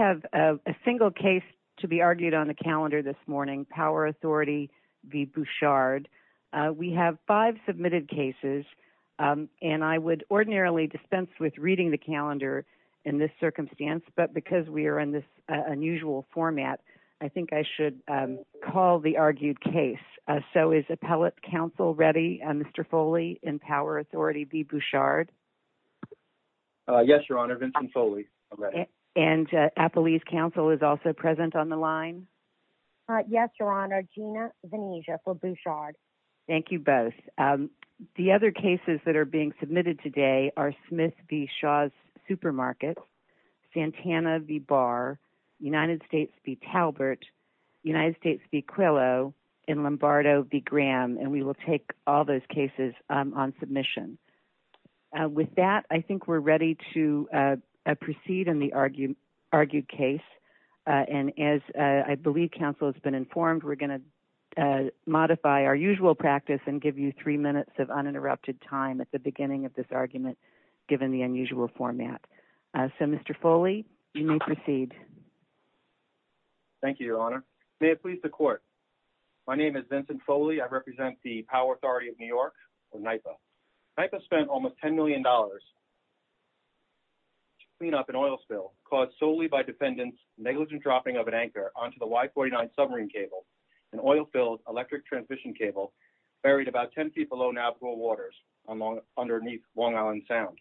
have a single case to be argued on the calendar this morning. Power Authority v. Bouchard. We have five submitted cases, and I would ordinarily dispense with reading the calendar in this circumstance, but because we are in this unusual format, I think I should call the argued case. So is Appellate Counsel ready, Mr. Foley, in Power Authority v. Bouchard? Yes, Your Honor, Vincent Foley. And Appellate Counsel is also present on the line? Yes, Your Honor, Gina Venezia for Bouchard. Thank you both. The other cases that are being submitted today are Smith v. Shaw's Supermarkets, Santana v. Barr, United States v. Talbert, United States v. Quillo, and Lombardo v. Graham, and we will take all those cases on submission. With that, I think we're ready to proceed in the argued case, and as I believe counsel has been informed, we're going to modify our usual practice and give you three minutes of uninterrupted time at the beginning of this argument, given the unusual format. So, Mr. Foley, you may proceed. Thank you, Your Honor. May it please the Court. My name is Vincent Foley. I represent the Power Authority of New York, or NYPA. NYPA spent almost $10 million to clean up an oil spill caused solely by defendants' negligent dropping of an anchor onto the Y-49 submarine cable, an oil-filled electric transmission cable buried about 10 feet below navigable waters underneath Long Island Sound.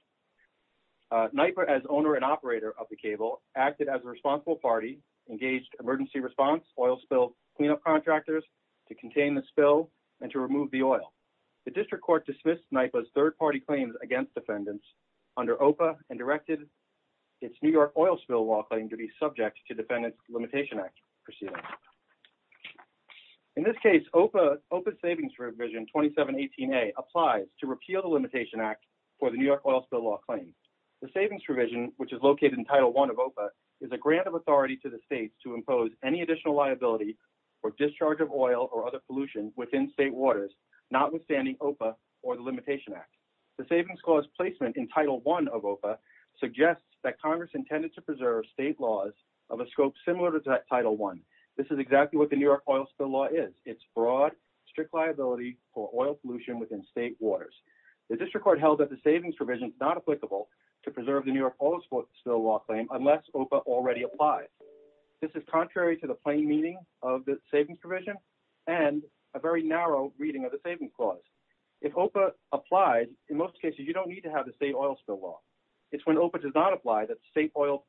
NYPA, as owner and operator of the cable, acted as a responsible party, engaged emergency response, oil spill cleanup contractors to contain the spill and to remove the oil. The District Court dismissed NYPA's third-party claims against defendants under OPA and directed its New York Oil Spill Law claim to be subject to Defendant's Limitation Act proceedings. In this case, OPA's Savings Revision 2718A applies to repeal the Limitation Act for the New York Oil Spill Law claim. The Savings Revision is a grant of authority to the states to impose any additional liability for discharge of oil or other pollution within state waters, notwithstanding OPA or the Limitation Act. The Savings Clause placement in Title I of OPA suggests that Congress intended to preserve state laws of a scope similar to Title I. This is exactly what the New York Oil Spill Law is. It's broad, strict liability for oil pollution within state waters. The District Court held that the Savings Revision is not applicable to preserve the New York Oil Spill Law claim unless OPA already applies. This is contrary to the plain meaning of the Savings Revision and a very narrow reading of the Savings Clause. If OPA applies, in most cases, you don't need to have the state oil spill law. It's when OPA does not apply that state oil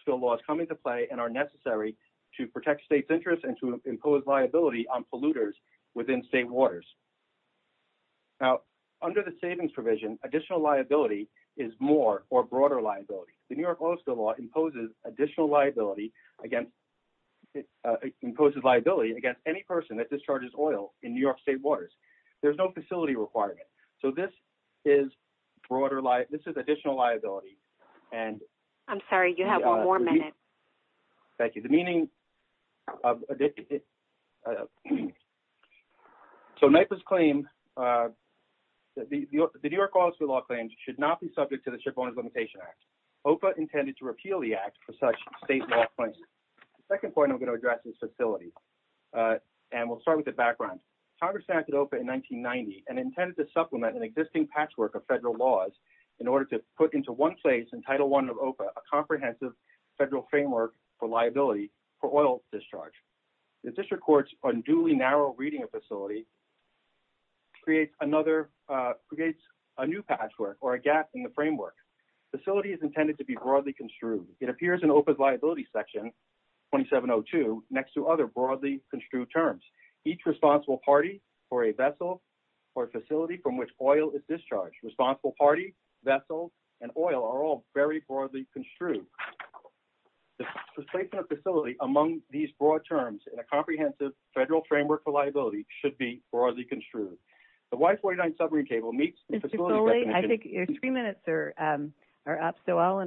spill laws come into play and are necessary to protect states' interests and to impose liability on polluters within state waters. Now, under the Savings Revision, additional liability is more or broader liability. The New York Oil Spill Law imposes additional liability against any person that discharges oil in New York state waters. There's no facility requirement. So this is additional liability. I'm sorry, you have one more minute. Thank you. So NYPA's claim, the New York Oil Spill Law claim should not be subject to the Shipowners Limitation Act. OPA intended to repeal the act for such state law points. The second point I'm going to address is facility. And we'll start with the background. Congress enacted OPA in 1990 and intended to supplement an existing patchwork of federal laws in order to put into one place in Title I of OPA a comprehensive federal framework for liability for oil discharge. The district court's unduly narrow reading of facility creates a new patchwork or a gap in the framework. Facility is intended to be broadly construed. It appears in OPA's liability section 2702 next to other broadly construed terms. Each responsible party for a vessel or facility from which oil is discharged. Responsible party, vessel, and oil are all very broadly construed. The placement of facility among these broad terms in a comprehensive federal framework for liability should be broadly construed. The Y-49 submarine table meets the facility definition. Mr. Foley, I think your three minutes are up, so I'll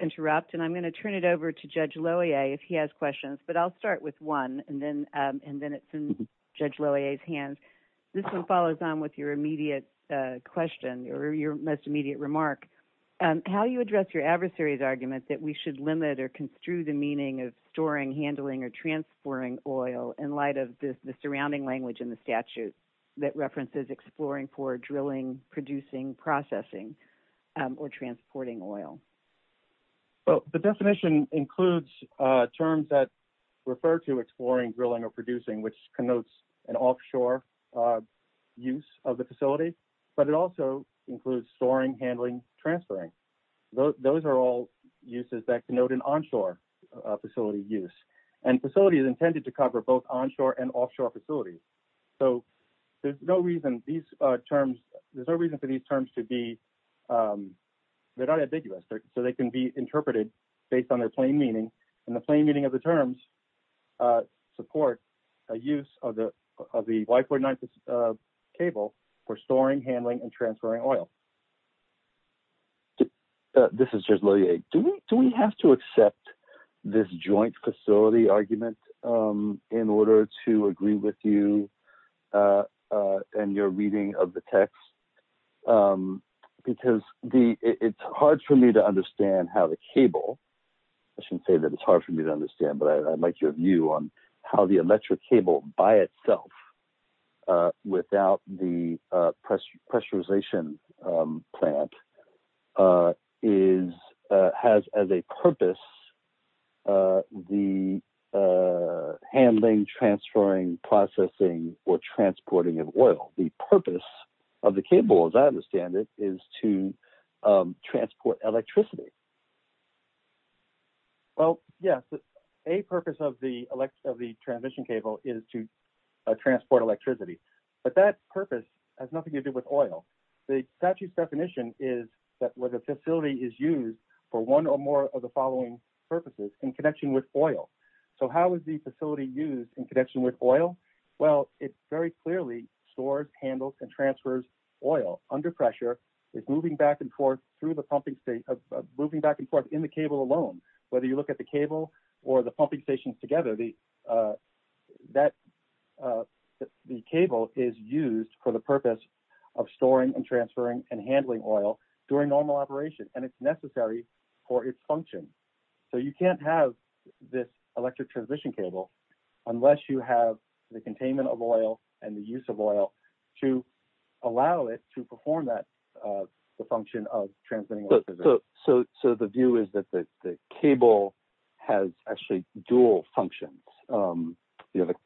interrupt, and I'm going to turn it over to Judge Lohier if he has questions. But I'll start with one, and then it's in Judge Lohier. This one follows on with your immediate question or your most immediate remark. How do you address your adversary's argument that we should limit or construe the meaning of storing, handling, or transporting oil in light of the surrounding language in the statute that references exploring for drilling, producing, processing, or transporting oil? Well, the definition includes terms that refer to exploring, drilling, or producing, which connotes an offshore use of the facility. But it also includes storing, handling, transferring. Those are all uses that connote an onshore facility use. And facility is intended to cover both onshore and offshore facilities. So there's no reason for these terms to be – they're not ambiguous, so they can be interpreted based on their plain meaning. And the plain meaning of the terms support a use of the Y49 cable for storing, handling, and transferring oil. This is Judge Lohier. Do we have to accept this joint facility argument in order to agree with you and your reading of the text? Because it's hard for me to understand how the cable – I shouldn't say that it's hard for me to understand, but I'd like your view on how the electric cable by itself without the pressurization plant has as a purpose the handling, transferring, processing, or transporting of oil. The purpose of the cable, as I understand it, is to transport electricity. Well, yes. A purpose of the transmission cable is to transport electricity. But that purpose has nothing to do with oil. The statute's definition is that where the facility is used for one or more of the following purposes in connection with oil. So how is the facility used in connection with oil? Well, it very clearly stores, handles, and transfers oil under pressure. It's moving back and forth in the cable alone. Whether you look at the cable or the pumping stations together, the cable is used for the purpose of storing and transferring and handling oil during normal operation. And it's necessary for its function. So you can't have this electric transmission cable unless you have the containment of oil and the use of oil to allow it to perform the function of transmitting electricity. So the view is that the cable has actually dual functions. That's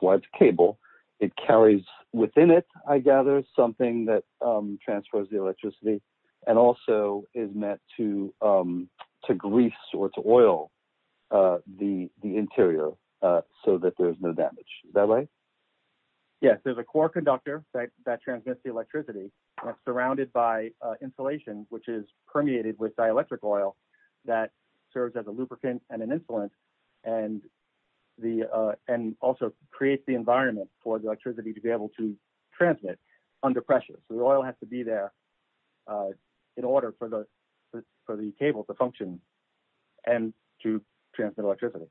why it's a cable. It carries within it, I gather, something that transfers the electricity and also is meant to grease or to oil the interior so that there's no damage. Is that right? Yes, there's a core conductor that transmits the electricity that's surrounded by insulation, which is permeated with dielectric oil that serves as a lubricant and an insulant and also creates the environment for the electricity to be able to transmit under pressure. So to transmit electricity.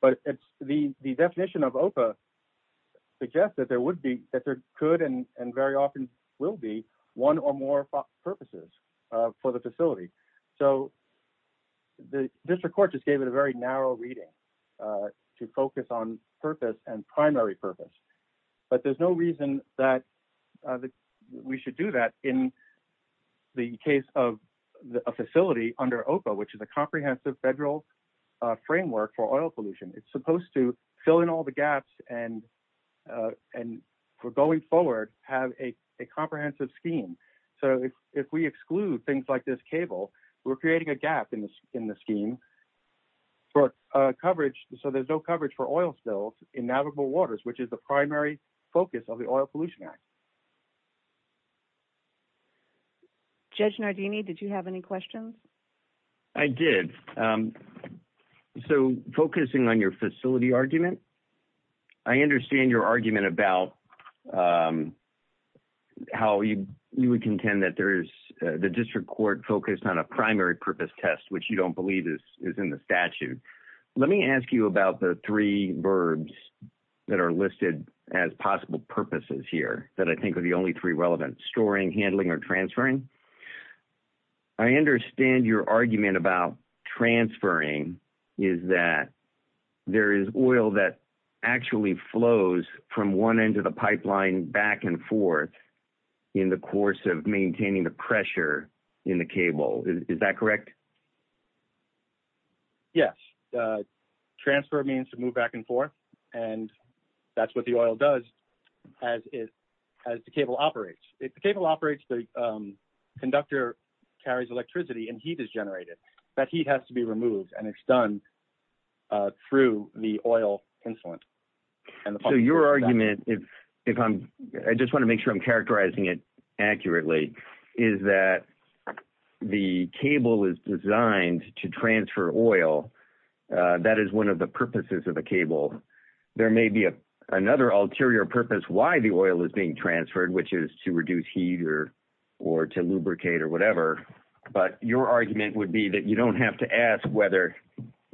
But the definition of OPA suggests that there could and very often will be one or more purposes for the facility. So the district court just gave it a very narrow reading to focus on purpose and primary purpose. But there's no reason that we should do that in the case of a facility under OPA, which is a comprehensive federal framework for oil pollution. It's supposed to fill in all the gaps and for going forward, have a comprehensive scheme. So if we exclude things like this cable, we're creating a gap in the scheme for coverage. So there's no coverage for oil spills in navigable waters, which is the primary focus of the Oil Pollution Act. Judge Nardini, did you have any questions? I did. So focusing on your facility argument, I understand your argument about how you would contend that there is the district court focused on a primary purpose test, which you don't I'm going to ask you about the three verbs that are listed as possible purposes here that I think are the only three relevant storing, handling or transferring. I understand your argument about transferring is that there is oil that actually flows from one end of the pipeline back and forth in the course of maintaining the pressure in the cable. Is that correct? Yes. Transfer means to move back and forth. And that's what the oil does as it as the cable operates. If the cable operates, the conductor carries electricity and heat is generated. That heat has to be removed and it's done through the oil insulin. So your argument, if I'm I just want to make sure I'm characterizing it accurately, is that the cable is designed to transfer oil. That is one of the purposes of the cable. There may be another ulterior purpose why the oil is being transferred, which is to reduce heat or to lubricate or whatever. But your argument would be that you don't have to ask whether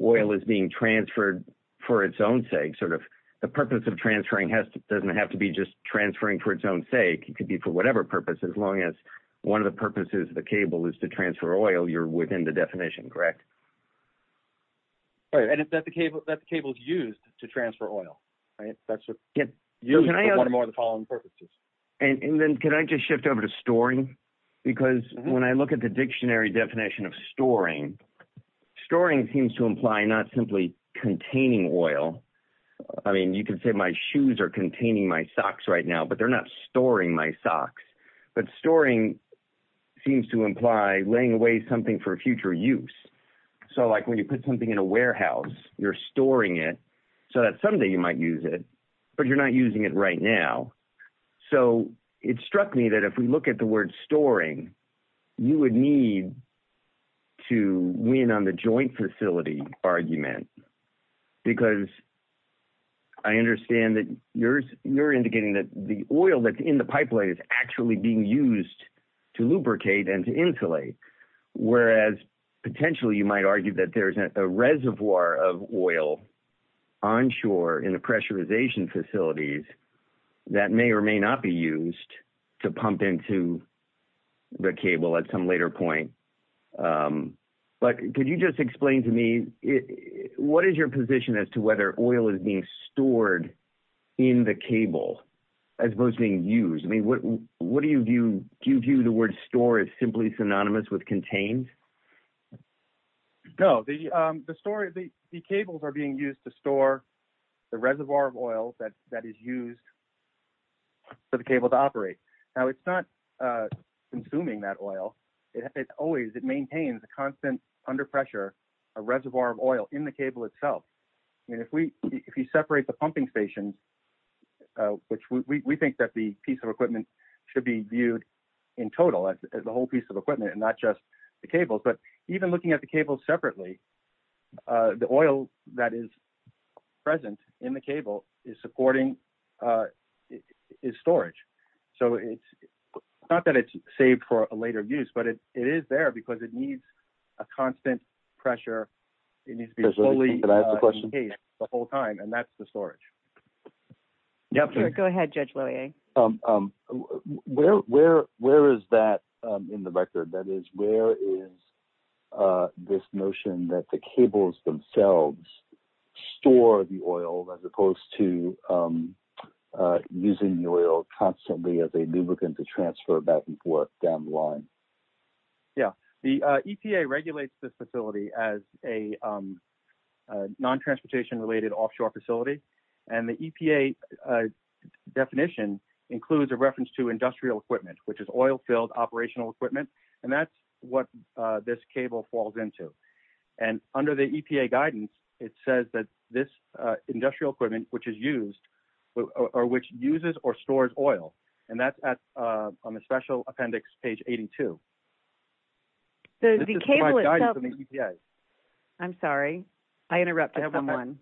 oil is being transferred for its own sake. Sort of the purpose of transferring doesn't have to be just transferring for its own sake. It could be for whatever purpose, as long as one of the purposes of the cable is to transfer oil. You're within the definition, correct? And if that the cable that the cable is used to transfer oil, that's what you're going to want to more the following purposes. And then can I just shift over to storing? Because when I look at the dictionary definition of storing, storing seems to imply not simply containing oil. I mean, you can say my shoes are containing my socks right now, but they're not storing my socks. But storing seems to imply laying away something for future use. So like when you put something in a warehouse, you're storing it so that someday you might use it, but you're not using it right now. So it struck me that if we look at the word storing, you would need to win on the joint facility argument, because I understand that you're indicating that the oil that's in the pipeline is actually being used to lubricate and to insulate, whereas potentially you might argue that there is a reservoir of oil onshore in the pressurization facilities that may or may not be used to pump into the cable at some later point. But could you just explain to me what is your position as to whether oil is being stored in the cable as opposed to being used? I mean, what do you view? Do you view the word store is simply synonymous with contained? No, the cables are being used to store the reservoir of oil that is used for the cable to operate. Now, it's not consuming that oil. It always maintains a constant under pressure, a reservoir of oil in the cable itself. And if you separate the pumping stations, which we think that the piece of equipment should be viewed in total, the whole piece of equipment and not just the cables, but even looking at the cables separately, the oil that is present in the cable is supporting its storage. So it's not that it's saved for a later use, but it is there because it needs a constant pressure. It needs to be fully engaged the whole time. And that's the storage. Go ahead, Judge. Where, where, where is that in the record? That is, where is this notion that the cables themselves store the oil as opposed to using the oil constantly as a lubricant to transfer back and forth down the line? Yeah, the EPA regulates this facility as a non-transportation related offshore facility. And the EPA definition includes a reference to industrial equipment, which is oil filled operational equipment. And that's what this cable falls into. And under the EPA guidance, it says that this industrial equipment, which is used or which uses or stores oil. And that's on the special appendix, page 82. So the cable itself. I'm sorry, I interrupted someone.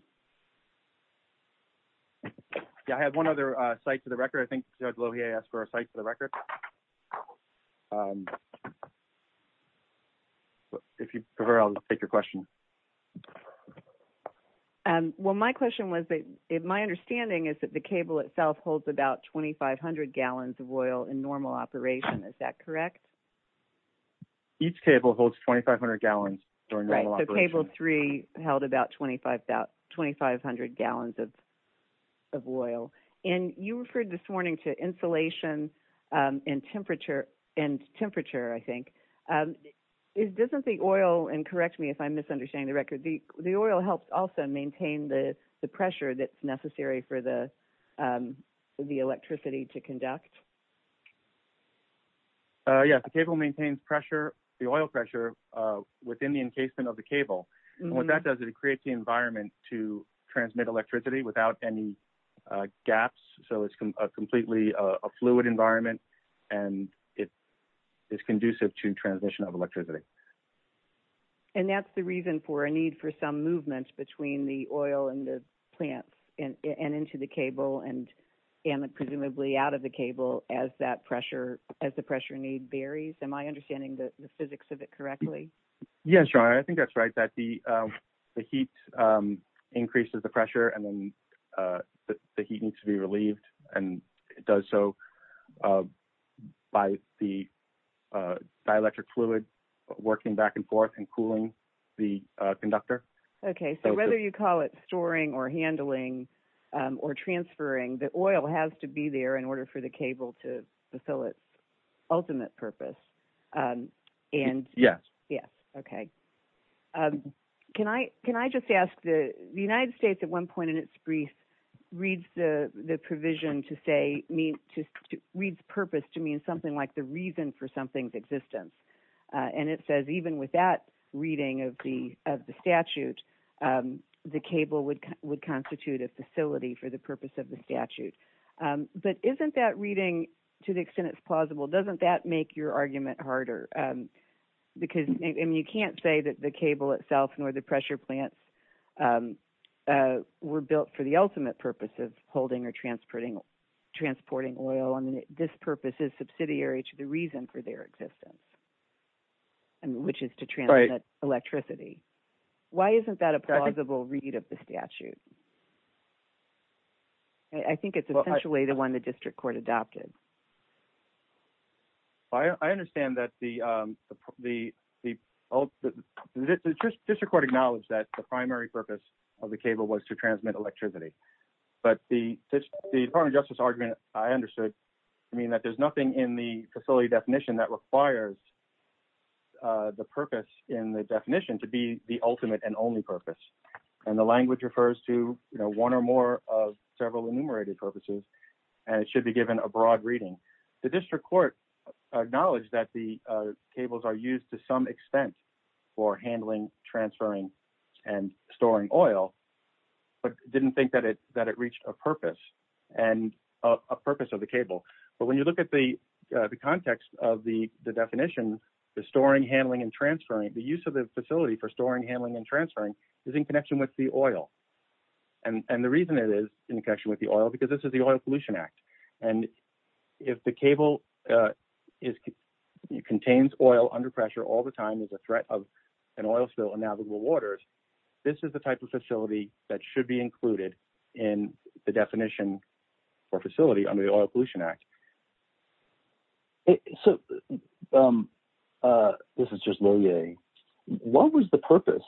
I have one other site for the record. I think Judge Lohier asked for a site for the record. If you prefer, I'll take your question. Well, my question was that my understanding is that the cable itself holds about 2,500 gallons of oil in normal operation. Is that correct? Each cable holds 2,500 gallons during normal operation. So cable three held about 2,500 gallons of oil. And you referred this morning to insulation and temperature and temperature, I think. Isn't the oil and correct me if I'm misunderstanding the record. The oil helps also maintain the pressure that's necessary for the electricity to conduct. Yes, the cable maintains pressure, the oil pressure within the encasement of the cable. What that does is it creates the environment to transmit electricity without any gaps. So it's completely a fluid environment and it is conducive to transmission of electricity. And that's the reason for a need for some movements between the oil and the plants and into the cable and presumably out of the cable as that pressure as the pressure need varies. Am I understanding the physics of it correctly? Yes. I think that's right. That the heat increases the pressure and then the heat needs to be relieved. And it does so by the dielectric fluid working back and forth and cooling the conductor. OK. So whether you call it storing or handling or transferring, the oil has to be there in order for the cable to fulfill its ultimate purpose. Yes. Yes. OK. Can I can I just ask the United States at one point in its brief reads the provision to say me to read the purpose to mean something like the reason for something's existence. And it says even with that reading of the of the statute, the cable would would constitute a facility for the purpose of the statute. But isn't that reading to the extent it's plausible? Doesn't that make your argument harder? Because you can't say that the cable itself nor the pressure plants were built for the ultimate purpose of holding or transporting transporting oil. And this purpose is subsidiary to the reason for their existence. And which is to try electricity. Why isn't that a plausible read of the statute? I think it's essentially the one the district court adopted. I understand that the the the district court acknowledged that the primary purpose of the cable was to transmit electricity. But the Department of Justice argument I understood, I mean, that there's nothing in the facility definition that requires the purpose in the definition to be the ultimate and only purpose. And the language refers to one or more of several enumerated purposes, and it should be given a broad reading. The district court acknowledged that the cables are used to some extent for handling, transferring and storing oil, but didn't think that it that it reached a purpose and a purpose of the cable. But when you look at the context of the definition, the storing, handling and transferring the use of the facility for storing, handling and transferring is in connection with the oil. And the reason it is in connection with the oil, because this is the Oil Pollution Act. And if the cable is contains oil under pressure all the time is a threat of an oil spill in navigable waters. This is the type of facility that should be included in the definition for facility under the Oil Pollution Act. So, this is just Lohier. What was the purpose,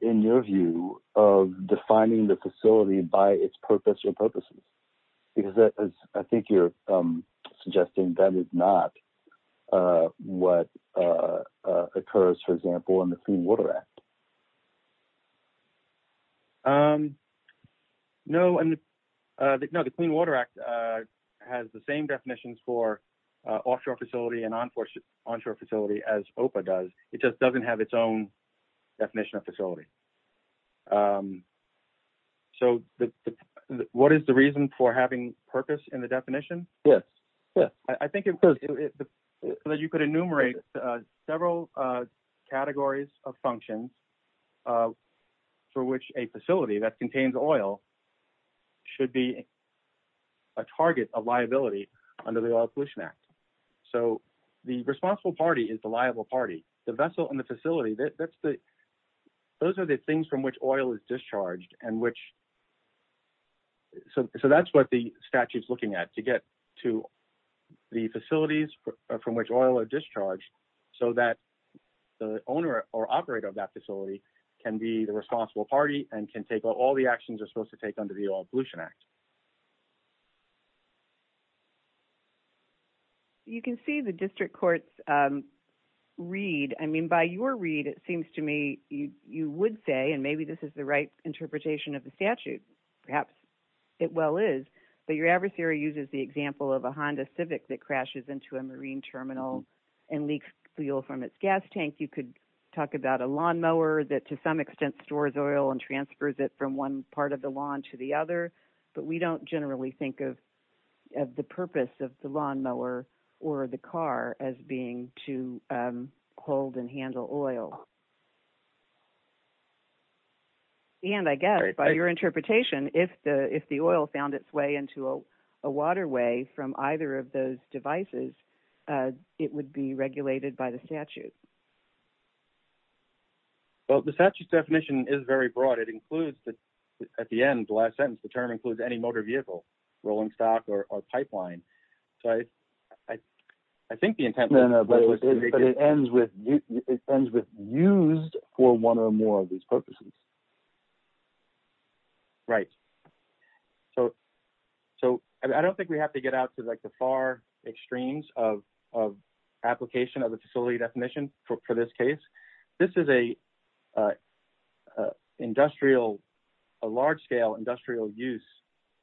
in your view, of defining the facility by its purpose or purposes? Because I think you're suggesting that is not what occurs, for example, in the Clean Water Act. No, the Clean Water Act has the same definitions for offshore facility and onshore facility as OPA does. It just doesn't have its own definition of facility. So, what is the reason for having purpose in the definition? Yes, yes. I think you could enumerate several categories of functions for which a facility that contains oil should be a target of liability under the Oil Pollution Act. So, the responsible party is the liable party. The vessel and the facility, those are the things from which oil is discharged. So, that's what the statute is looking at, to get to the facilities from which oil is discharged so that the owner or operator of that facility can be the responsible party and can take all the actions they're supposed to take under the Oil Pollution Act. You can see the district court's read. I mean, by your read, it seems to me you would say, and maybe this is the right interpretation of the statute, perhaps it well is, but your adversary uses the example of a Honda Civic that crashes into a marine terminal and leaks fuel from its gas tank. I think you could talk about a lawnmower that to some extent stores oil and transfers it from one part of the lawn to the other, but we don't generally think of the purpose of the lawnmower or the car as being to hold and handle oil. And I guess by your interpretation, if the oil found its way into a waterway from either of those devices, it would be regulated by the statute. Well, the statute's definition is very broad. It includes, at the end, the last sentence, the term includes any motor vehicle, rolling stock, or pipeline. So, I think the intent... No, no, but it ends with used for one or more of these purposes. Right. So, I don't think we have to get out to the far extremes of application of the facility definition for this case. This is a large scale industrial use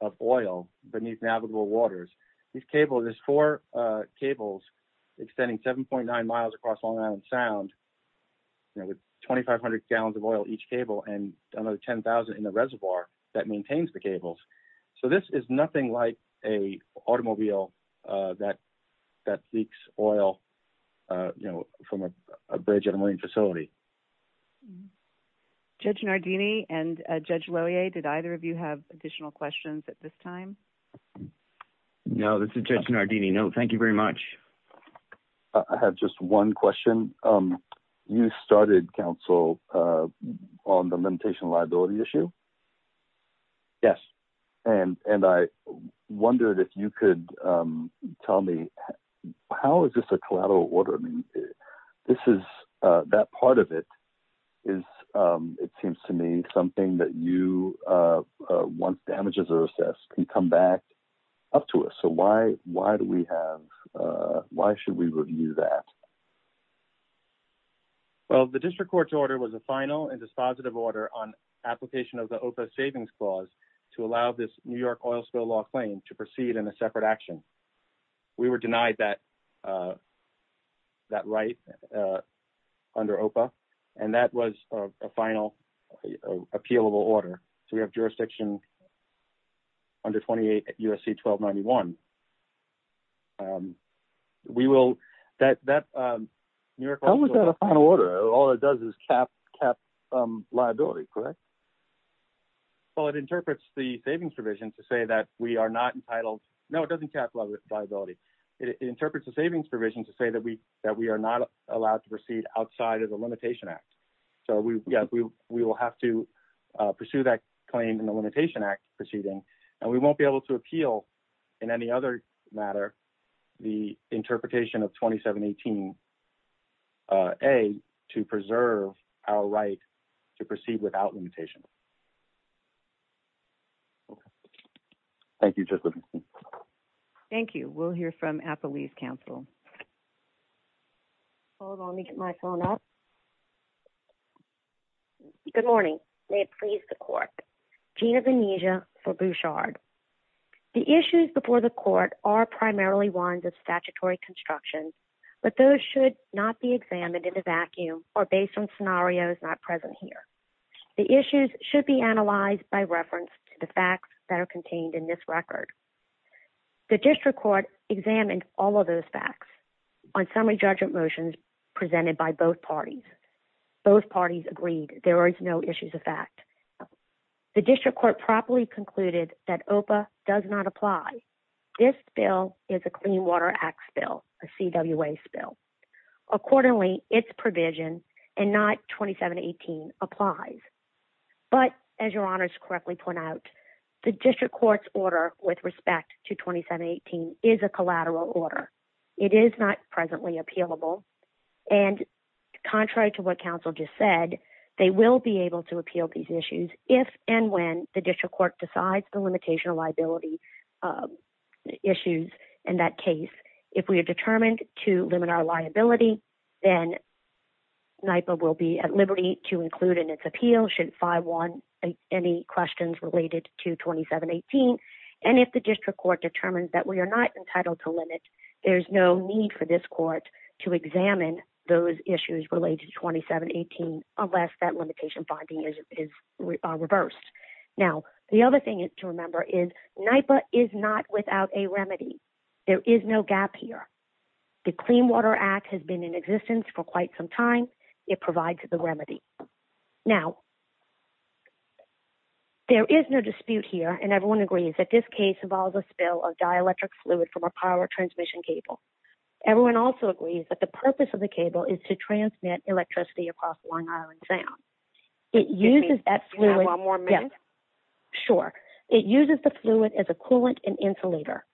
of oil beneath navigable waters. These cables, there's four cables extending 7.9 miles across Long Island Sound with 2,500 gallons of oil each cable and another 10,000 in the reservoir that maintains the cables. So, this is nothing like an automobile that leaks oil from a bridge at a marine facility. Judge Nardini and Judge Lohier, did either of you have additional questions at this time? No, this is Judge Nardini. No, thank you very much. I have just one question. You started, counsel, on the limitation liability issue? Yes, and I wondered if you could tell me, how is this a collateral order? I mean, this is, that part of it is, it seems to me, something that you, once damages are assessed, can come back up to us. So, why do we have, why should we review that? Well, the district court's order was a final and dispositive order on application of the OPA savings clause to allow this New York oil spill law claim to proceed in a separate action. We were denied that right under OPA, and that was a final appealable order. So, we have jurisdiction under 28 U.S.C. 1291. How is that a final order? All it does is cap liability, correct? Well, it interprets the savings provision to say that we are not entitled, no, it doesn't cap liability. It interprets the savings provision to say that we are not allowed to proceed outside of the limitation act. So, we will have to pursue that claim in the limitation act proceeding, and we won't be able to appeal, in any other matter, the interpretation of 2718A to preserve our right to proceed without limitation. Thank you. Thank you. We'll hear from Appalachia Council. Hold on, let me get my phone up. Good morning. May it please the court. Gina Venegia for Bouchard. The issues before the court are primarily ones of statutory construction, but those should not be examined in a vacuum or based on scenarios not present here. The issues should be analyzed by reference to the facts that are contained in this record. The district court examined all of those facts on summary judgment motions presented by both parties. Both parties agreed there is no issues of fact. The district court properly concluded that OPA does not apply. This bill is a Clean Water Act bill, a CWA bill. Accordingly, its provision, and not 2718, applies. But, as your honors correctly point out, the district court's order with respect to 2718 is a collateral order. It is not presently appealable, and contrary to what counsel just said, they will be able to appeal these issues if and when the district court decides the limitation of liability issues in that case. If we are determined to limit our liability, then NIPA will be at liberty to include in its appeal should 5-1 any questions related to 2718. And if the district court determines that we are not entitled to limit, there is no need for this court to examine those issues related to 2718 unless that limitation finding is reversed. Now, the other thing to remember is NIPA is not without a remedy. There is no gap here. The Clean Water Act has been in existence for quite some time. It provides the remedy. Now, there is no dispute here, and everyone agrees that this case involves a spill of dielectric fluid from a power transmission cable. Everyone also agrees that the purpose of the cable is to transmit electricity across Long Island Sound. Do you have one more minute? Sure. It uses the fluid as a coolant and insulator.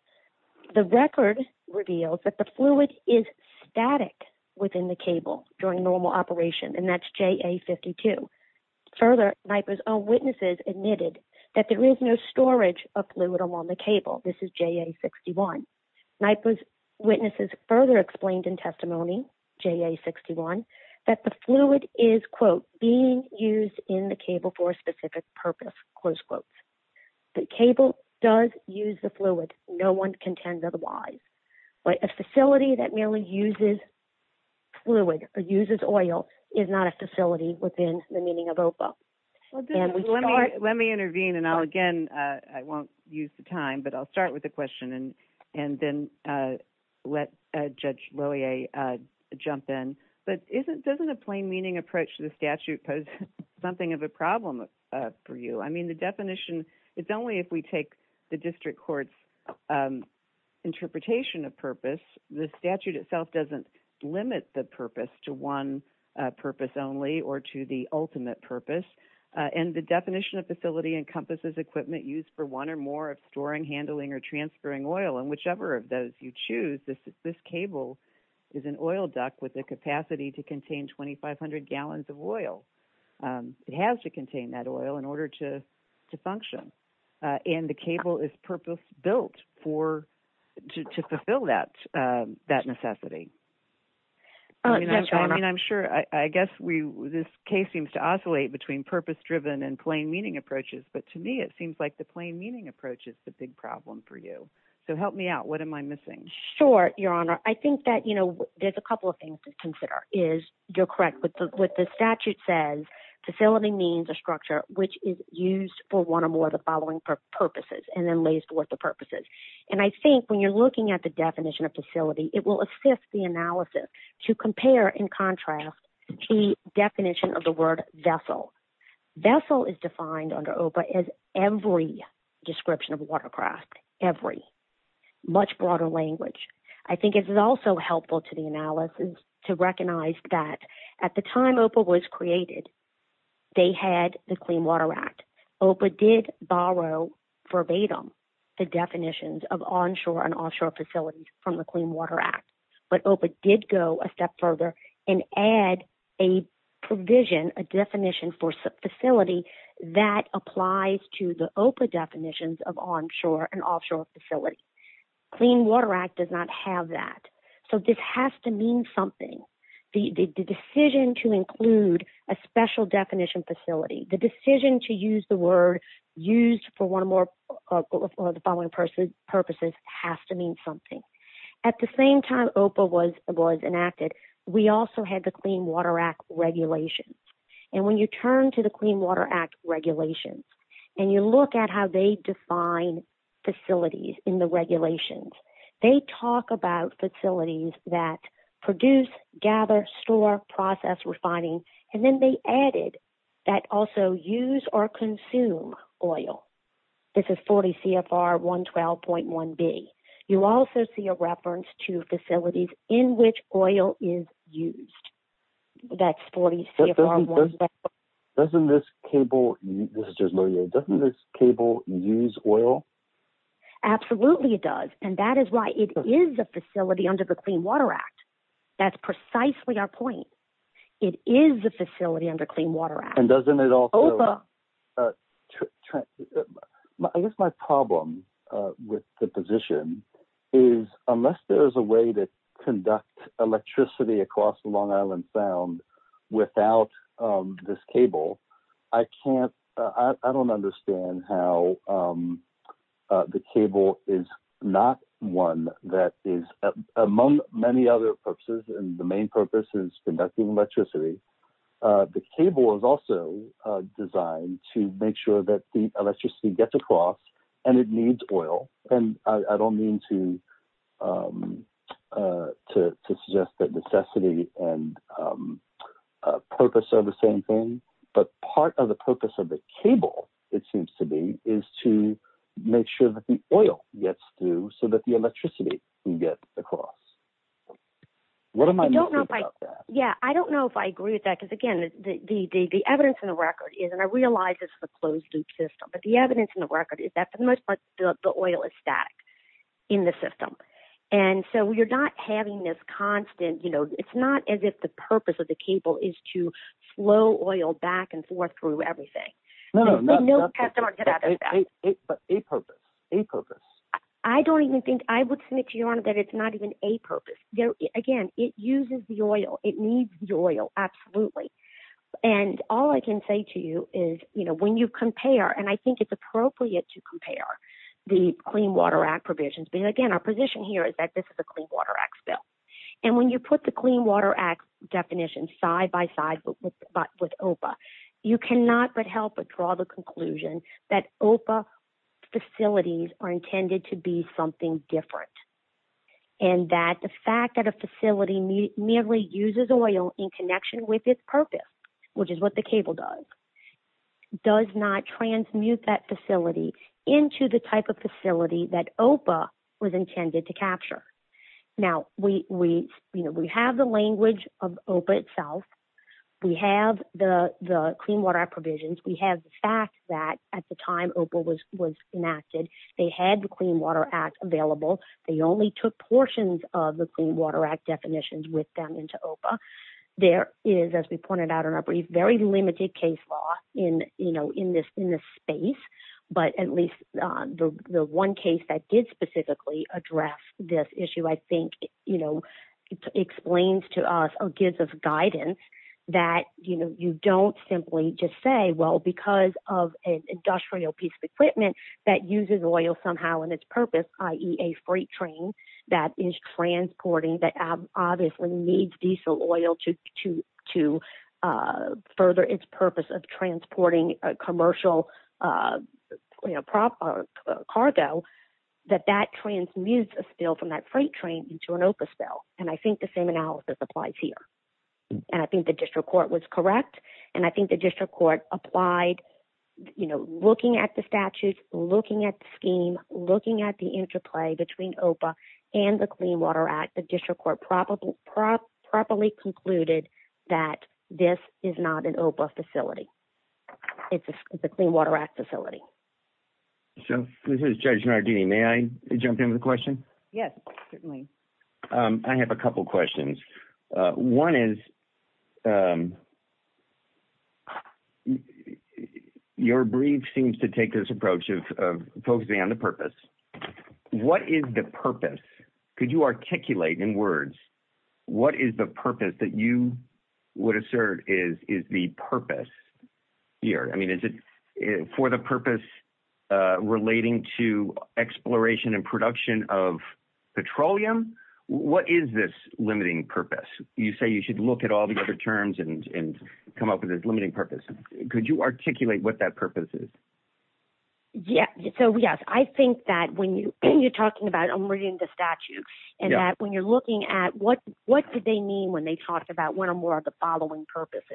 The record reveals that the fluid is static within the cable during normal operation, and that's JA-52. Further, NIPA's own witnesses admitted that there is no storage of fluid along the cable. This is JA-61. NIPA's witnesses further explained in testimony, JA-61, that the fluid is, quote, being used in the cable for a specific purpose, close quotes. The cable does use the fluid. No one contends otherwise. But a facility that merely uses fluid or uses oil is not a facility within the meaning of OPA. Let me intervene, and again, I won't use the time, but I'll start with a question and then let Judge Lohier jump in. But doesn't a plain-meaning approach to the statute pose something of a problem for you? I mean, the definition, it's only if we take the district court's interpretation of purpose. The statute itself doesn't limit the purpose to one purpose only or to the ultimate purpose. And the definition of facility encompasses equipment used for one or more of storing, handling, or transferring oil. And whichever of those you choose, this cable is an oil duct with the capacity to contain 2,500 gallons of oil. It has to contain that oil in order to function. And the cable is purpose-built to fulfill that necessity. I mean, I'm sure, I guess this case seems to oscillate between purpose-driven and plain-meaning approaches. But to me, it seems like the plain-meaning approach is the big problem for you. So help me out. What am I missing? Sure, Your Honor. I think that, you know, there's a couple of things to consider. You're correct. What the statute says, facility means a structure which is used for one or more of the following purposes. And then lays forth the purposes. And I think when you're looking at the definition of facility, it will assist the analysis to compare and contrast the definition of the word vessel. Vessel is defined under OPA as every description of a watercraft. Every. Much broader language. I think it is also helpful to the analysis to recognize that at the time OPA was created, they had the Clean Water Act. OPA did borrow verbatim the definitions of onshore and offshore facilities from the Clean Water Act. But OPA did go a step further and add a provision, a definition for facility that applies to the OPA definitions of onshore and offshore facilities. Clean Water Act does not have that. So this has to mean something. The decision to include a special definition facility, the decision to use the word used for one or more of the following purposes has to mean something. At the same time OPA was enacted, we also had the Clean Water Act regulations. And when you turn to the Clean Water Act regulations and you look at how they define facilities in the regulations, they talk about facilities that produce, gather, store, process, refining. And then they added that also use or consume oil. This is 40 CFR 112.1B. You also see a reference to facilities in which oil is used. That's 40 CFR 112.1B. Doesn't this cable use oil? Absolutely it does. And that is why it is a facility under the Clean Water Act. That's precisely our point. It is a facility under Clean Water Act. I guess my problem with the position is unless there is a way to conduct electricity across Long Island Sound without this cable, I don't understand how the cable is not one that is, among many other purposes, and the main purpose is conducting electricity. The cable is also designed to make sure that the electricity gets across and it needs oil. And I don't mean to suggest that necessity and purpose are the same thing. But part of the purpose of the cable, it seems to be, is to make sure that the oil gets through so that the electricity can get across. What am I missing about that? I don't know if I agree with that. Because again, the evidence in the record is, and I realize this is a closed loop system, but the evidence in the record is that for the most part the oil is static in the system. And so you're not having this constant, you know, it's not as if the purpose of the cable is to flow oil back and forth through everything. But a purpose, a purpose. I don't even think, I would submit to Your Honor that it's not even a purpose. Again, it uses the oil. It needs the oil, absolutely. And all I can say to you is, you know, when you compare, and I think it's appropriate to compare the Clean Water Act provisions, but again, our position here is that this is a Clean Water Act bill. And when you put the Clean Water Act definition side by side with OPA, you cannot but help but draw the conclusion that OPA facilities are intended to be something different. And that the fact that a facility merely uses oil in connection with its purpose, which is what the cable does, does not transmute that facility into the type of facility that OPA was intended to capture. Now, we, you know, we have the language of OPA itself. We have the Clean Water Act provisions. We have the fact that at the time OPA was enacted, they had the Clean Water Act available. They only took portions of the Clean Water Act definitions with them into OPA. There is, as we pointed out in our brief, very limited case law in, you know, in this space. But at least the one case that did specifically address this issue, I think, you know, explains to us or gives us guidance that, you know, you don't simply just say, well, because of an industrial piece of equipment that uses oil somehow in its purpose, i.e., a freight train that is transporting that obviously needs diesel oil to further its purpose of transporting commercial, you know, cargo, that that transmutes a spill from that freight train into an OPA spill. And I think the same analysis applies here. And I think the district court was correct. And I think the district court applied, you know, looking at the statutes, looking at the scheme, looking at the interplay between OPA and the Clean Water Act, the district court properly concluded that this is not an OPA facility. It's a Clean Water Act facility. So this is Judge Nardini. May I jump in with a question? Yes, certainly. I have a couple questions. One is your brief seems to take this approach of focusing on the purpose. What is the purpose? Could you articulate in words what is the purpose that you would assert is the purpose here? I mean, is it for the purpose relating to exploration and production of petroleum? What is this limiting purpose? You say you should look at all the other terms and come up with a limiting purpose. Could you articulate what that purpose is? Yes. So, yes, I think that when you're talking about I'm reading the statute and that when you're looking at what what do they mean when they talk about one or more of the following purposes?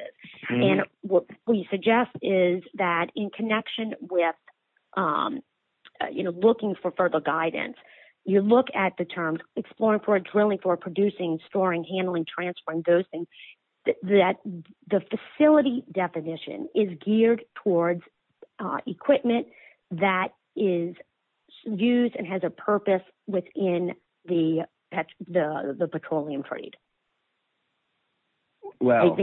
And what we suggest is that in connection with, you know, looking for further guidance, you look at the terms exploring for drilling, for producing, storing, handling, transferring, that the facility definition is geared towards equipment that is used and has a purpose within the petroleum trade. Well,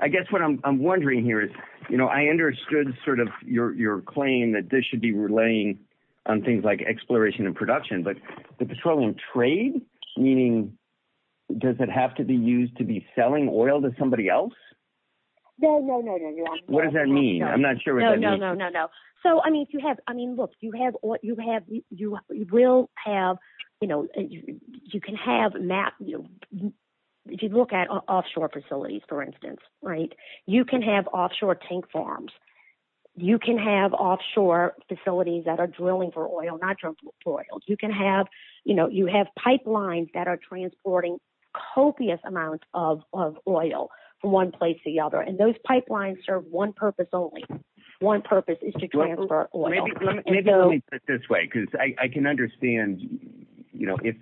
I guess what I'm wondering here is, you know, I understood sort of your claim that this should be relaying on things like exploration and production. But the petroleum trade, meaning, does it have to be used to be selling oil to somebody else? No, no, no, no. What does that mean? I'm not sure. No, no, no, no, no. So, I mean, you have I mean, look, you have what you have. You will have you know, you can have map. If you look at offshore facilities, for instance, right, you can have offshore tank farms. You can have offshore facilities that are drilling for oil, not for oil. You can have you know, you have pipelines that are transporting copious amount of oil from one place to the other. And those pipelines serve one purpose only. One purpose is to transfer oil. Maybe let me put it this way, because I can understand, you know, if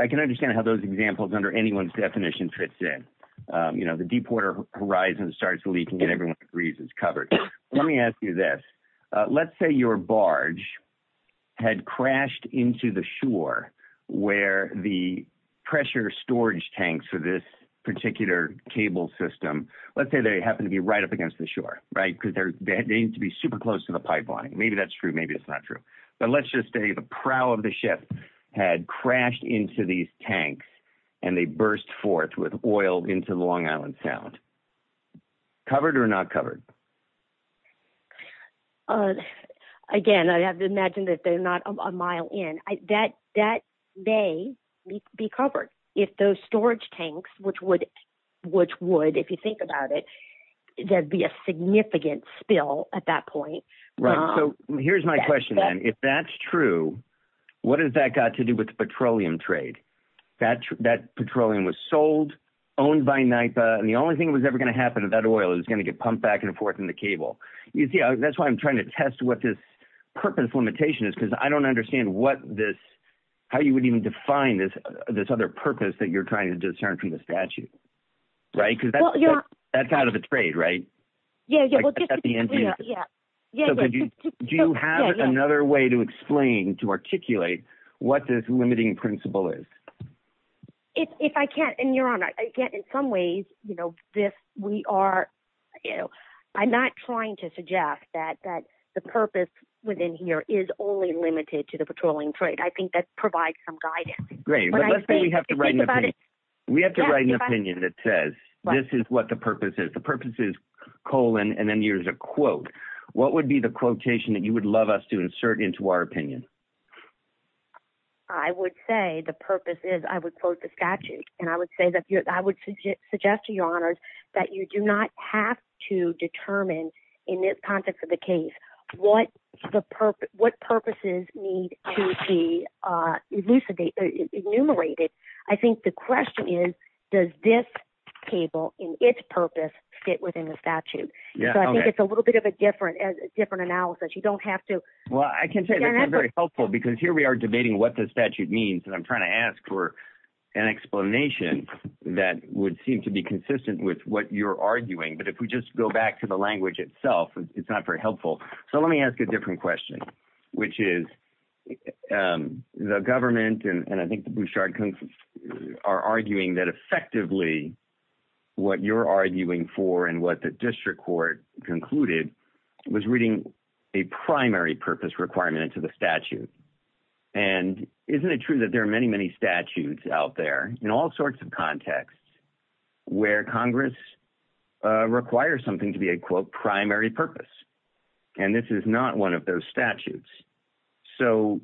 I can understand how those examples under anyone's definition fits in. You know, the Deepwater Horizon starts leaking and everyone agrees it's covered. Let me ask you this. Let's say your barge had crashed into the shore where the pressure storage tanks for this particular cable system. Let's say they happen to be right up against the shore. Right, because they need to be super close to the pipeline. Maybe that's true. Maybe it's not true. But let's just say the prow of the ship had crashed into these tanks and they burst forth with oil into the Long Island Sound. Is that covered or not covered? Again, I have to imagine that they're not a mile in. That may be covered if those storage tanks, which would, if you think about it, there'd be a significant spill at that point. Right, so here's my question then. If that's true, what has that got to do with the petroleum trade? That petroleum was sold, owned by NYPA, and the only thing that was ever going to happen to that oil is it was going to get pumped back and forth in the cable. You see, that's why I'm trying to test what this purpose limitation is, because I don't understand what this, how you would even define this other purpose that you're trying to discern from the statute. Right, because that's out of the trade, right? Do you have another way to explain, to articulate what this limiting principle is? If I can, and Your Honor, in some ways, I'm not trying to suggest that the purpose within here is only limited to the petroleum trade. I think that provides some guidance. Great, but let's say we have to write an opinion that says this is what the purpose is. Let's say that the purpose is colon, and then there's a quote. What would be the quotation that you would love us to insert into our opinion? I would say the purpose is, I would quote the statute, and I would suggest to Your Honors that you do not have to determine, in this context of the case, what purposes need to be enumerated. I think the question is, does this table, in its purpose, fit within the statute? So I think it's a little bit of a different analysis. You don't have to – Well, I can say that's not very helpful, because here we are debating what the statute means, and I'm trying to ask for an explanation that would seem to be consistent with what you're arguing. But if we just go back to the language itself, it's not very helpful. So let me ask a different question, which is the government and I think the Bouchard are arguing that effectively what you're arguing for and what the district court concluded was reading a primary purpose requirement into the statute. And isn't it true that there are many, many statutes out there in all sorts of contexts where Congress requires something to be a, quote, primary purpose, and this is not one of those statutes? So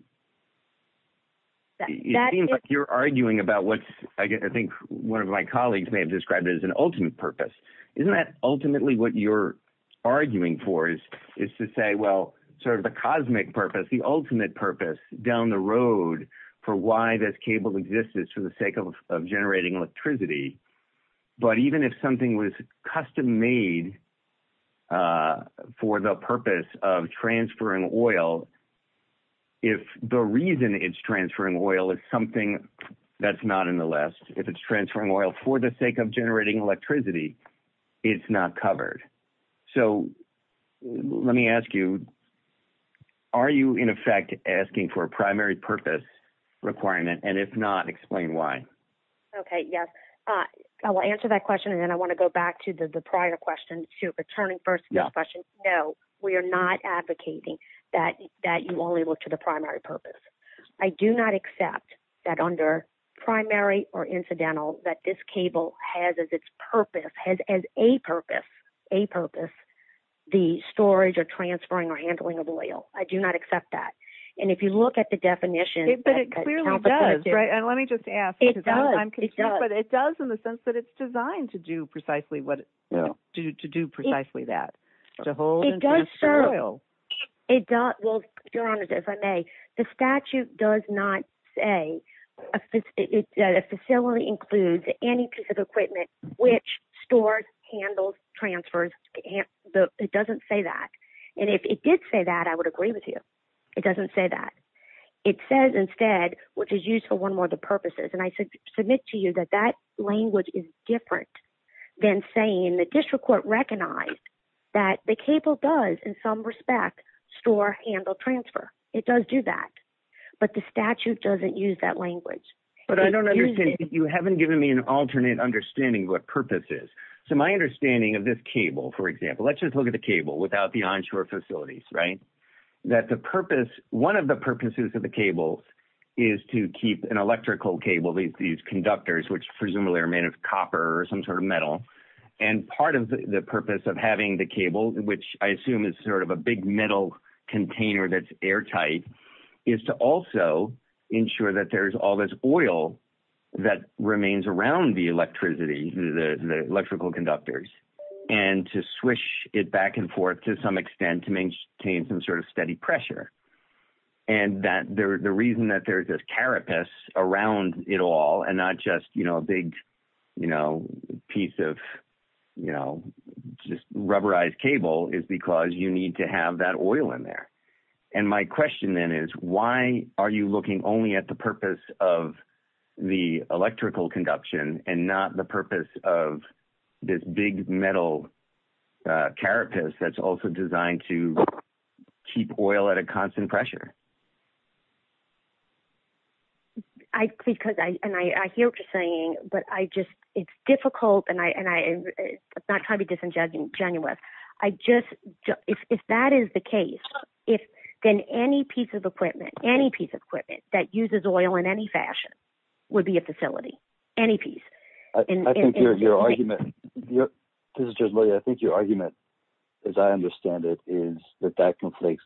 it seems like you're arguing about what I think one of my colleagues may have described as an ultimate purpose. Isn't that ultimately what you're arguing for is to say, well, sort of the cosmic purpose, the ultimate purpose down the road for why this cable exists is for the sake of generating electricity? But even if something was custom made for the purpose of transferring oil, if the reason it's transferring oil is something that's not in the list, if it's transferring oil for the sake of generating electricity, it's not covered. So let me ask you, are you in effect asking for a primary purpose requirement? And if not, explain why. Okay, yes. I will answer that question, and then I want to go back to the prior question to returning first to the question. No, we are not advocating that you only look to the primary purpose. I do not accept that under primary or incidental that this cable has as its purpose, has as a purpose, a purpose, the storage or transferring or handling of oil. I do not accept that. And if you look at the definition. But it clearly does, right? And let me just ask. It does. But it does in the sense that it's designed to do precisely what, to do precisely that, to hold and transfer oil. It does, well, Your Honor, if I may, the statute does not say that a facility includes any piece of equipment which stores, handles, transfers. It doesn't say that. And if it did say that, I would agree with you. It doesn't say that. It says instead, which is used for one more of the purposes. And I submit to you that that language is different than saying the district court recognized that the cable does, in some respect, store, handle, transfer. It does do that. But the statute doesn't use that language. But I don't understand. You haven't given me an alternate understanding of what purpose is. So my understanding of this cable, for example, let's just look at the cable without the onshore facilities, right? That the purpose, one of the purposes of the cable is to keep an electrical cable, these conductors, which presumably are made of copper or some sort of metal. And part of the purpose of having the cable, which I assume is sort of a big metal container that's airtight, is to also ensure that there's all this oil that remains around the electricity, the electrical conductors. And to swish it back and forth to some extent to maintain some sort of steady pressure. And that the reason that there's this carapace around it all and not just a big piece of rubberized cable is because you need to have that oil in there. And my question then is, why are you looking only at the purpose of the electrical conduction and not the purpose of this big metal carapace that's also designed to keep oil at a constant pressure? And I hear what you're saying, but it's difficult and I'm not trying to be disingenuous. If that is the case, then any piece of equipment, any piece of equipment that uses oil in any fashion would be a facility, any piece. I think your argument, as I understand it, is that that completes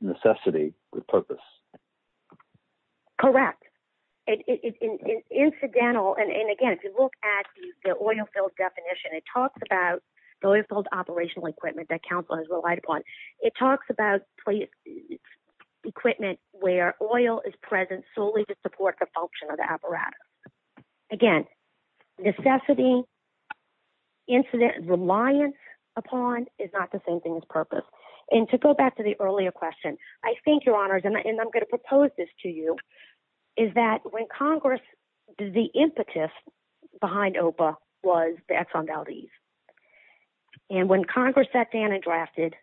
necessity with purpose. Correct. It's incidental. And again, if you look at the oil field definition, it talks about the oil field operational equipment that Council has relied upon. It talks about equipment where oil is present solely to support the function of the apparatus. Again, necessity, incident, reliance upon is not the same thing as purpose. And to go back to the earlier question, I think, Your Honors, and I'm going to propose this to you, is that when Congress, the impetus behind OPA was the Exxon Valdez. And when Congress sat down and drafted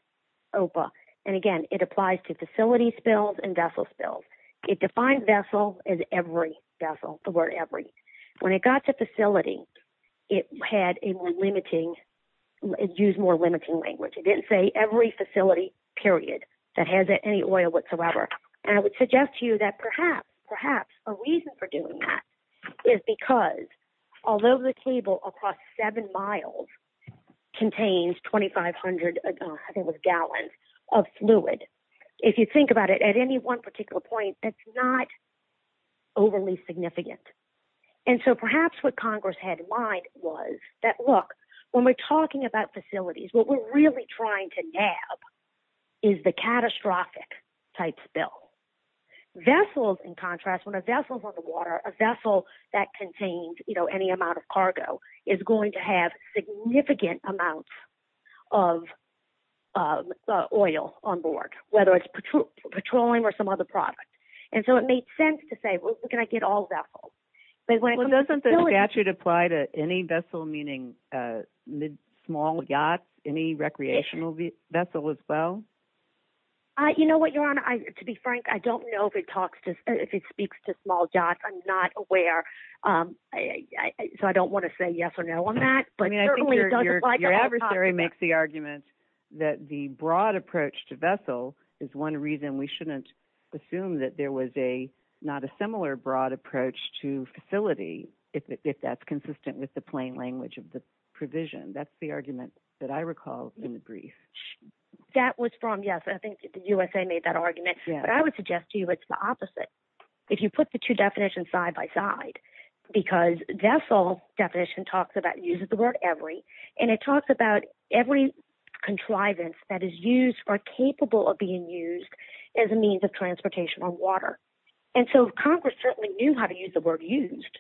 OPA, and again, it applies to facility spills and vessel spills. It defines vessel as every vessel, the word every. When it got to facility, it had a more limiting, it used more limiting language. It didn't say every facility, period, that has any oil whatsoever. And I would suggest to you that perhaps, perhaps a reason for doing that is because although the table across seven miles contains 2,500, I think it was gallons, of fluid. If you think about it, at any one particular point, that's not overly significant. And so perhaps what Congress had in mind was that, look, when we're talking about facilities, what we're really trying to nab is the catastrophic type spill. Vessels, in contrast, when a vessel's on the water, a vessel that contains, you know, any amount of cargo, is going to have significant amounts of oil on board, whether it's petroleum or some other product. And so it made sense to say, well, can I get all vessels? But when it comes to spills- Well, doesn't the statute apply to any vessel, meaning small yachts, any recreational vessel as well? You know what, Your Honor? To be frank, I don't know if it speaks to small yachts. I'm not aware. So I don't want to say yes or no on that. I mean, I think your adversary makes the argument that the broad approach to vessel is one reason we shouldn't assume that there was not a similar broad approach to facility, if that's consistent with the plain language of the provision. That's the argument that I recall in the brief. That was from, yes, I think the USA made that argument. But I would suggest to you it's the opposite. If you put the two definitions side by side, because vessel definition uses the word every, and it talks about every contrivance that is used or capable of being used as a means of transportation on water. And so Congress certainly knew how to use the word used.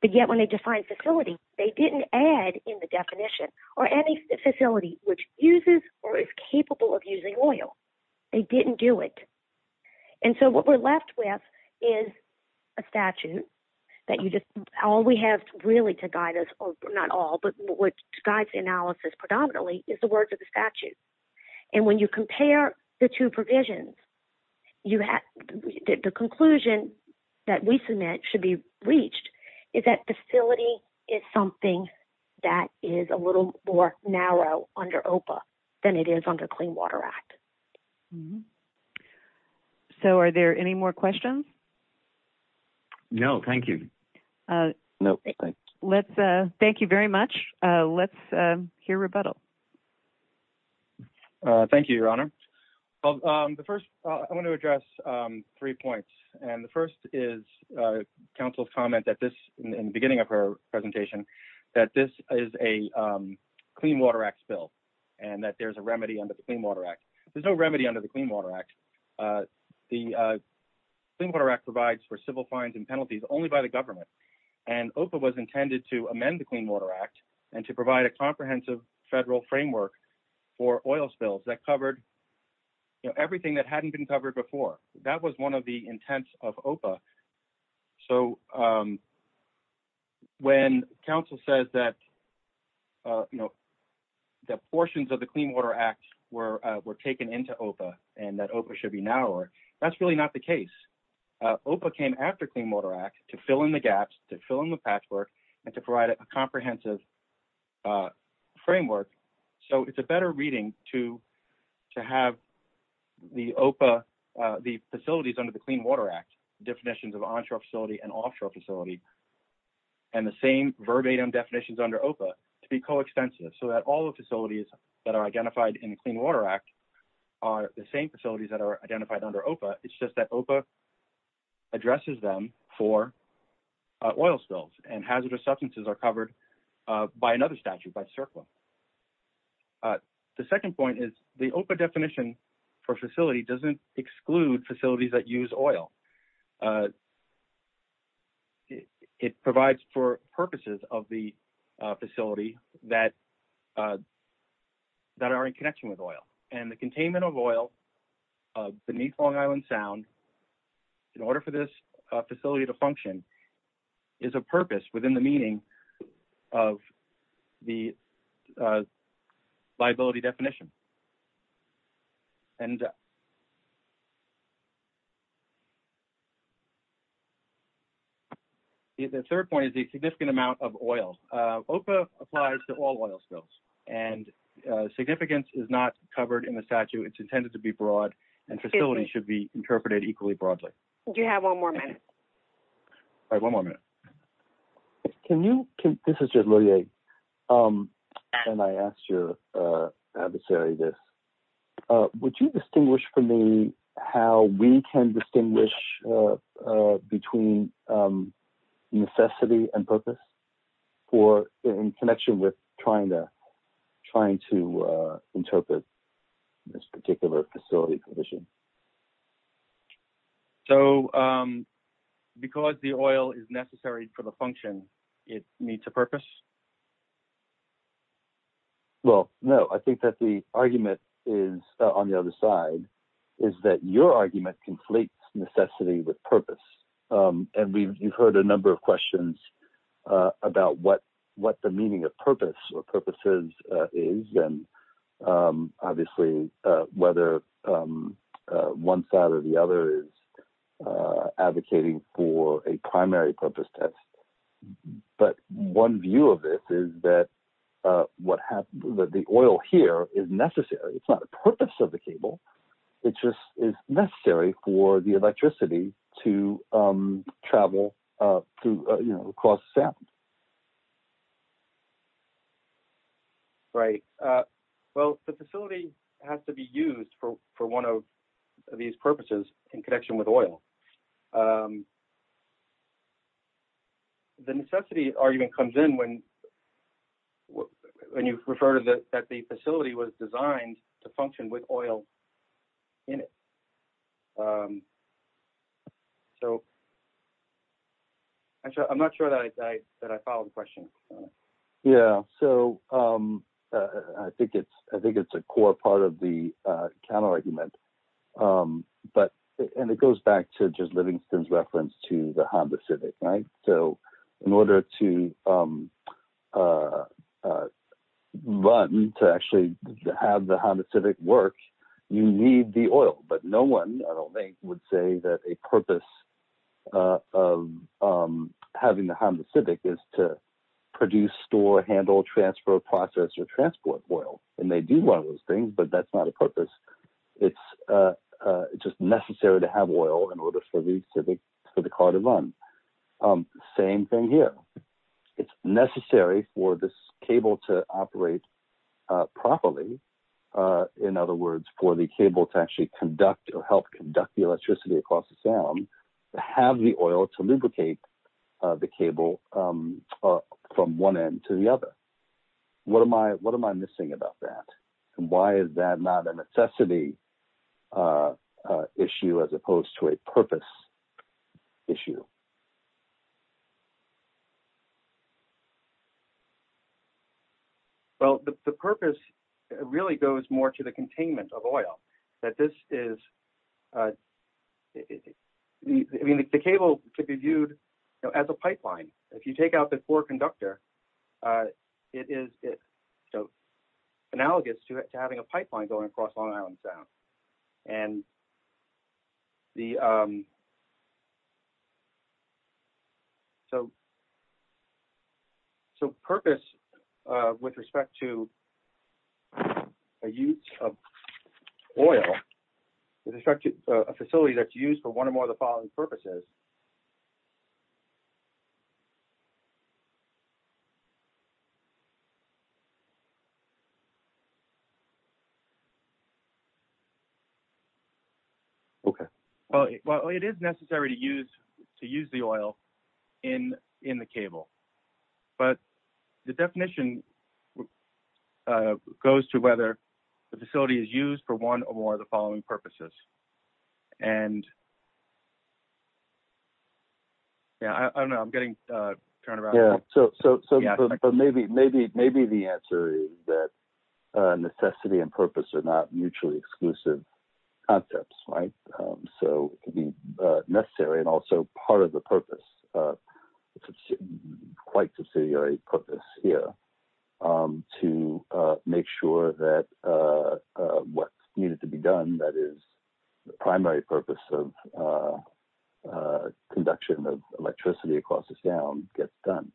But yet when they defined facility, they didn't add in the definition or any facility which uses or is capable of using oil. They didn't do it. And so what we're left with is a statute that all we have really to guide us, or not all, but what guides the analysis predominantly is the words of the statute. And when you compare the two provisions, the conclusion that we submit should be reached is that facility is something that is a little more narrow under OPA than it is under Clean Water Act. So are there any more questions? No, thank you. Thank you very much. Let's hear rebuttal. Thank you, Your Honor. The first, I want to address three points. And the first is Council's comment that this, in the beginning of her presentation, that this is a Clean Water Act bill, and that there's a remedy under the Clean Water Act. There's no remedy under the Clean Water Act. The Clean Water Act provides for civil fines and penalties only by the government. And OPA was intended to amend the Clean Water Act and to provide a comprehensive federal framework for oil spills that covered everything that hadn't been covered before. That was one of the intents of OPA. So when Council says that, you know, that portions of the Clean Water Act were taken into OPA and that OPA should be narrower, that's really not the case. OPA came after Clean Water Act to fill in the gaps, to fill in the patchwork, and to provide a comprehensive framework. So it's a better reading to have the OPA, the facilities under the Clean Water Act, definitions of onshore facility and offshore facility, and the same verbatim definitions under OPA to be coextensive so that all the facilities that are identified in the Clean Water Act are the same facilities that are identified under OPA, it's just that OPA addresses them for oil spills and hazardous substances are covered by another statute, by the CERCLA. The second point is the OPA definition for facility doesn't exclude facilities that use oil. It provides for purposes of the facility that are in connection with oil, and the containment of oil beneath Long Island Sound, in order for this facility to function, is a purpose within the meaning of the liability definition. And... The third point is the significant amount of oil. OPA applies to all oil spills, and significance is not covered in the statute, it's intended to be broad, and facilities should be interpreted equally broadly. Do you have one more minute? I have one more minute. Can you... This is Jed Lurie, and I asked your adversary this. Would you distinguish for me how we can distinguish between necessity and purpose in connection with trying to interpret this particular facility provision? So, because the oil is necessary for the function, it needs a purpose? Well, no. I think that the argument is, on the other side, is that your argument conflates necessity with purpose. And you've heard a number of questions about what the meaning of purpose or purposes is, and obviously whether one side or the other is advocating for a primary purpose test. But one view of it is that the oil here is necessary. It's not the purpose of the cable, it just is necessary for the electricity to travel across the Sound. Right. Well, the facility has to be used for one of these purposes in connection with oil. The necessity argument comes in when you refer to that the facility was designed to function with oil in it. I'm not sure that I followed the question. Yeah, so I think it's a core part of the counter-argument. And it goes back to just Livingston's reference to the Honda Civic, right? So, in order to run, to actually have the Honda Civic work, you need the oil. But no one, I don't think, would say that a purpose of having the Honda Civic is to produce, store, handle, transfer, process, or transport oil. And they do one of those things, but that's not a purpose. It's just necessary to have oil in order for the car to run. Same thing here. It's necessary for this cable to operate properly. In other words, for the cable to actually conduct or help conduct the electricity across the Sound, to have the oil to lubricate the cable from one end to the other. What am I missing about that? And why is that not a necessity issue as opposed to a purpose issue? Well, the purpose really goes more to the containment of oil. The cable could be viewed as a pipeline. If you take out the core conductor, it is analogous to having a pipeline going across Long Island Sound. So, purpose with respect to the use of oil, with respect to a facility that's used for one or more of the following purposes. Okay. Well, it is necessary to use the oil in the cable. But the definition goes to whether the facility is used for one or more of the following purposes. I don't know. I'm getting turned around. Maybe the answer is that necessity and purpose are not mutually exclusive concepts. So, it can be necessary and also part of the purpose, quite subsidiary purpose here, to make sure that what's needed to be done, that is, the primary purpose of conduction of electricity across the Sound, gets done.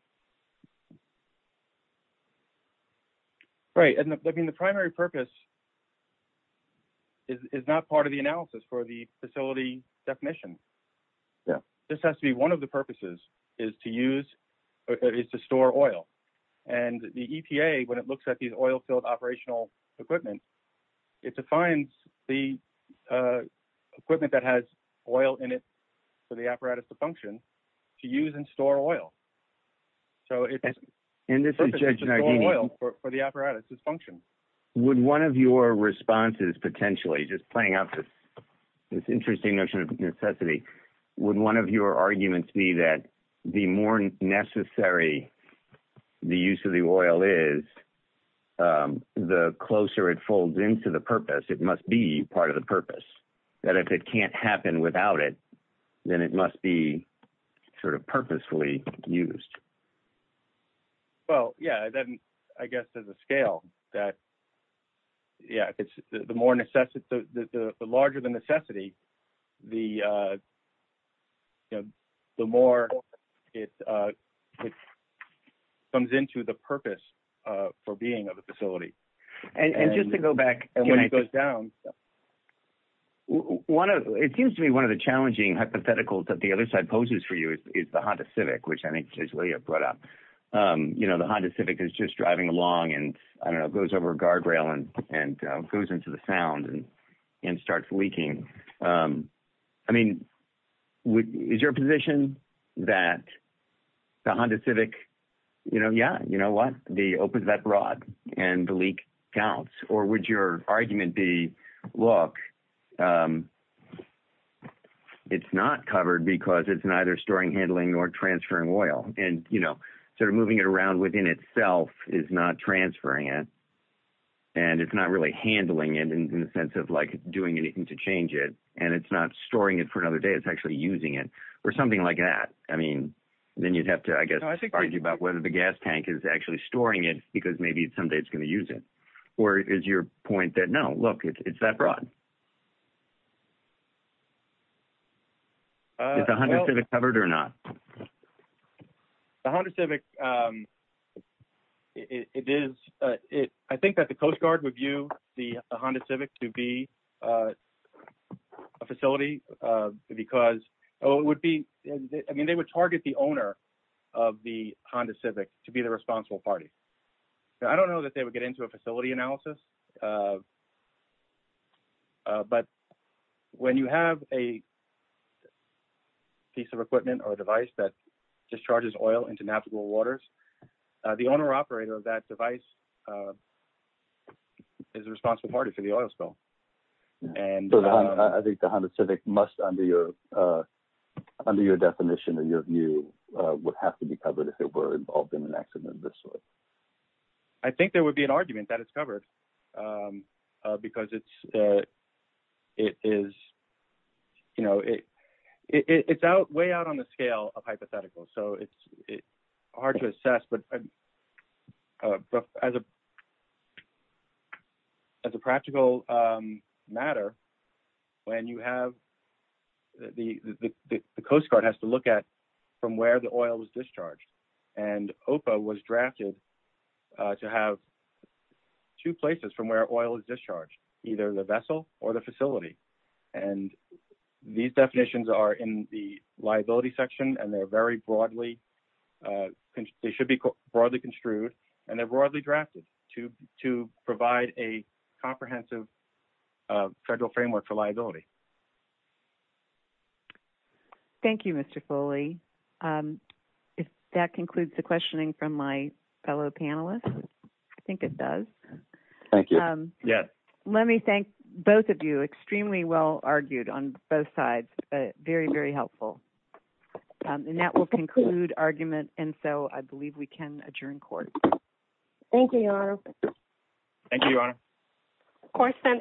Right. I mean, the primary purpose is not part of the analysis for the facility definition. This has to be one of the purposes, is to store oil. And the EPA, when it looks at these oil-filled operational equipment, it defines the equipment that has oil in it for the apparatus to function, to use and store oil. So, it's purpose is to store oil for the apparatus to function. Would one of your responses, potentially, just playing off this interesting notion of necessity, would one of your arguments be that the more necessary the use of the oil is, the closer it folds into the purpose? It must be part of the purpose. That if it can't happen without it, then it must be sort of purposefully used. Well, yeah. Then, I guess there's a scale that, yeah, the larger the necessity, the more it comes into the purpose for being of a facility. And just to go back... And when it goes down... It seems to me one of the challenging hypotheticals that the other side poses for you is the Honda Civic, which I think is what you brought up. You know, the Honda Civic is just driving along and, I don't know, goes over a guardrail and goes into the Sound and starts leaking. I mean, is your position that the Honda Civic, you know, yeah, you know what, the open that rod and the leak counts? Or would your argument be, look, it's not covered because it's neither storing, handling or transferring oil. And, you know, sort of moving it around within itself is not transferring it. And it's not really handling it in the sense of like doing anything to change it. And it's not storing it for another day. It's actually using it or something like that. I mean, then you'd have to, I guess, argue about whether the gas tank is actually storing it because maybe someday it's going to use it. Or is your point that, no, look, it's that broad? Is the Honda Civic covered or not? The Honda Civic, it is, I think that the Coast Guard would view the Honda Civic to be a facility because it would be, I mean, they would target the owner of the Honda Civic to be the responsible party. I don't know that they would get into a facility analysis. But when you have a piece of equipment or device that discharges oil into navigable waters, the owner operator of that device is a responsible party for the oil spill. I think the Honda Civic must, under your definition and your view, would have to be covered if it were involved in an accident of this sort. I think there would be an argument that it's covered. Because it's way out on the scale of hypotheticals, so it's hard to assess. But as a practical matter, the Coast Guard has to look at from where the oil was discharged. And OPA was drafted to have two places from where oil is discharged, either the vessel or the facility. And these definitions are in the liability section and they're very broadly, they should be broadly construed and they're broadly drafted to provide a comprehensive federal framework for liability. Thank you, Mr. Foley. If that concludes the questioning from my fellow panelists, I think it does. Thank you. Let me thank both of you. Extremely well argued on both sides. Very, very helpful. And that will conclude argument. And so I believe we can adjourn court. Thank you, Your Honor. Thank you, Your Honor.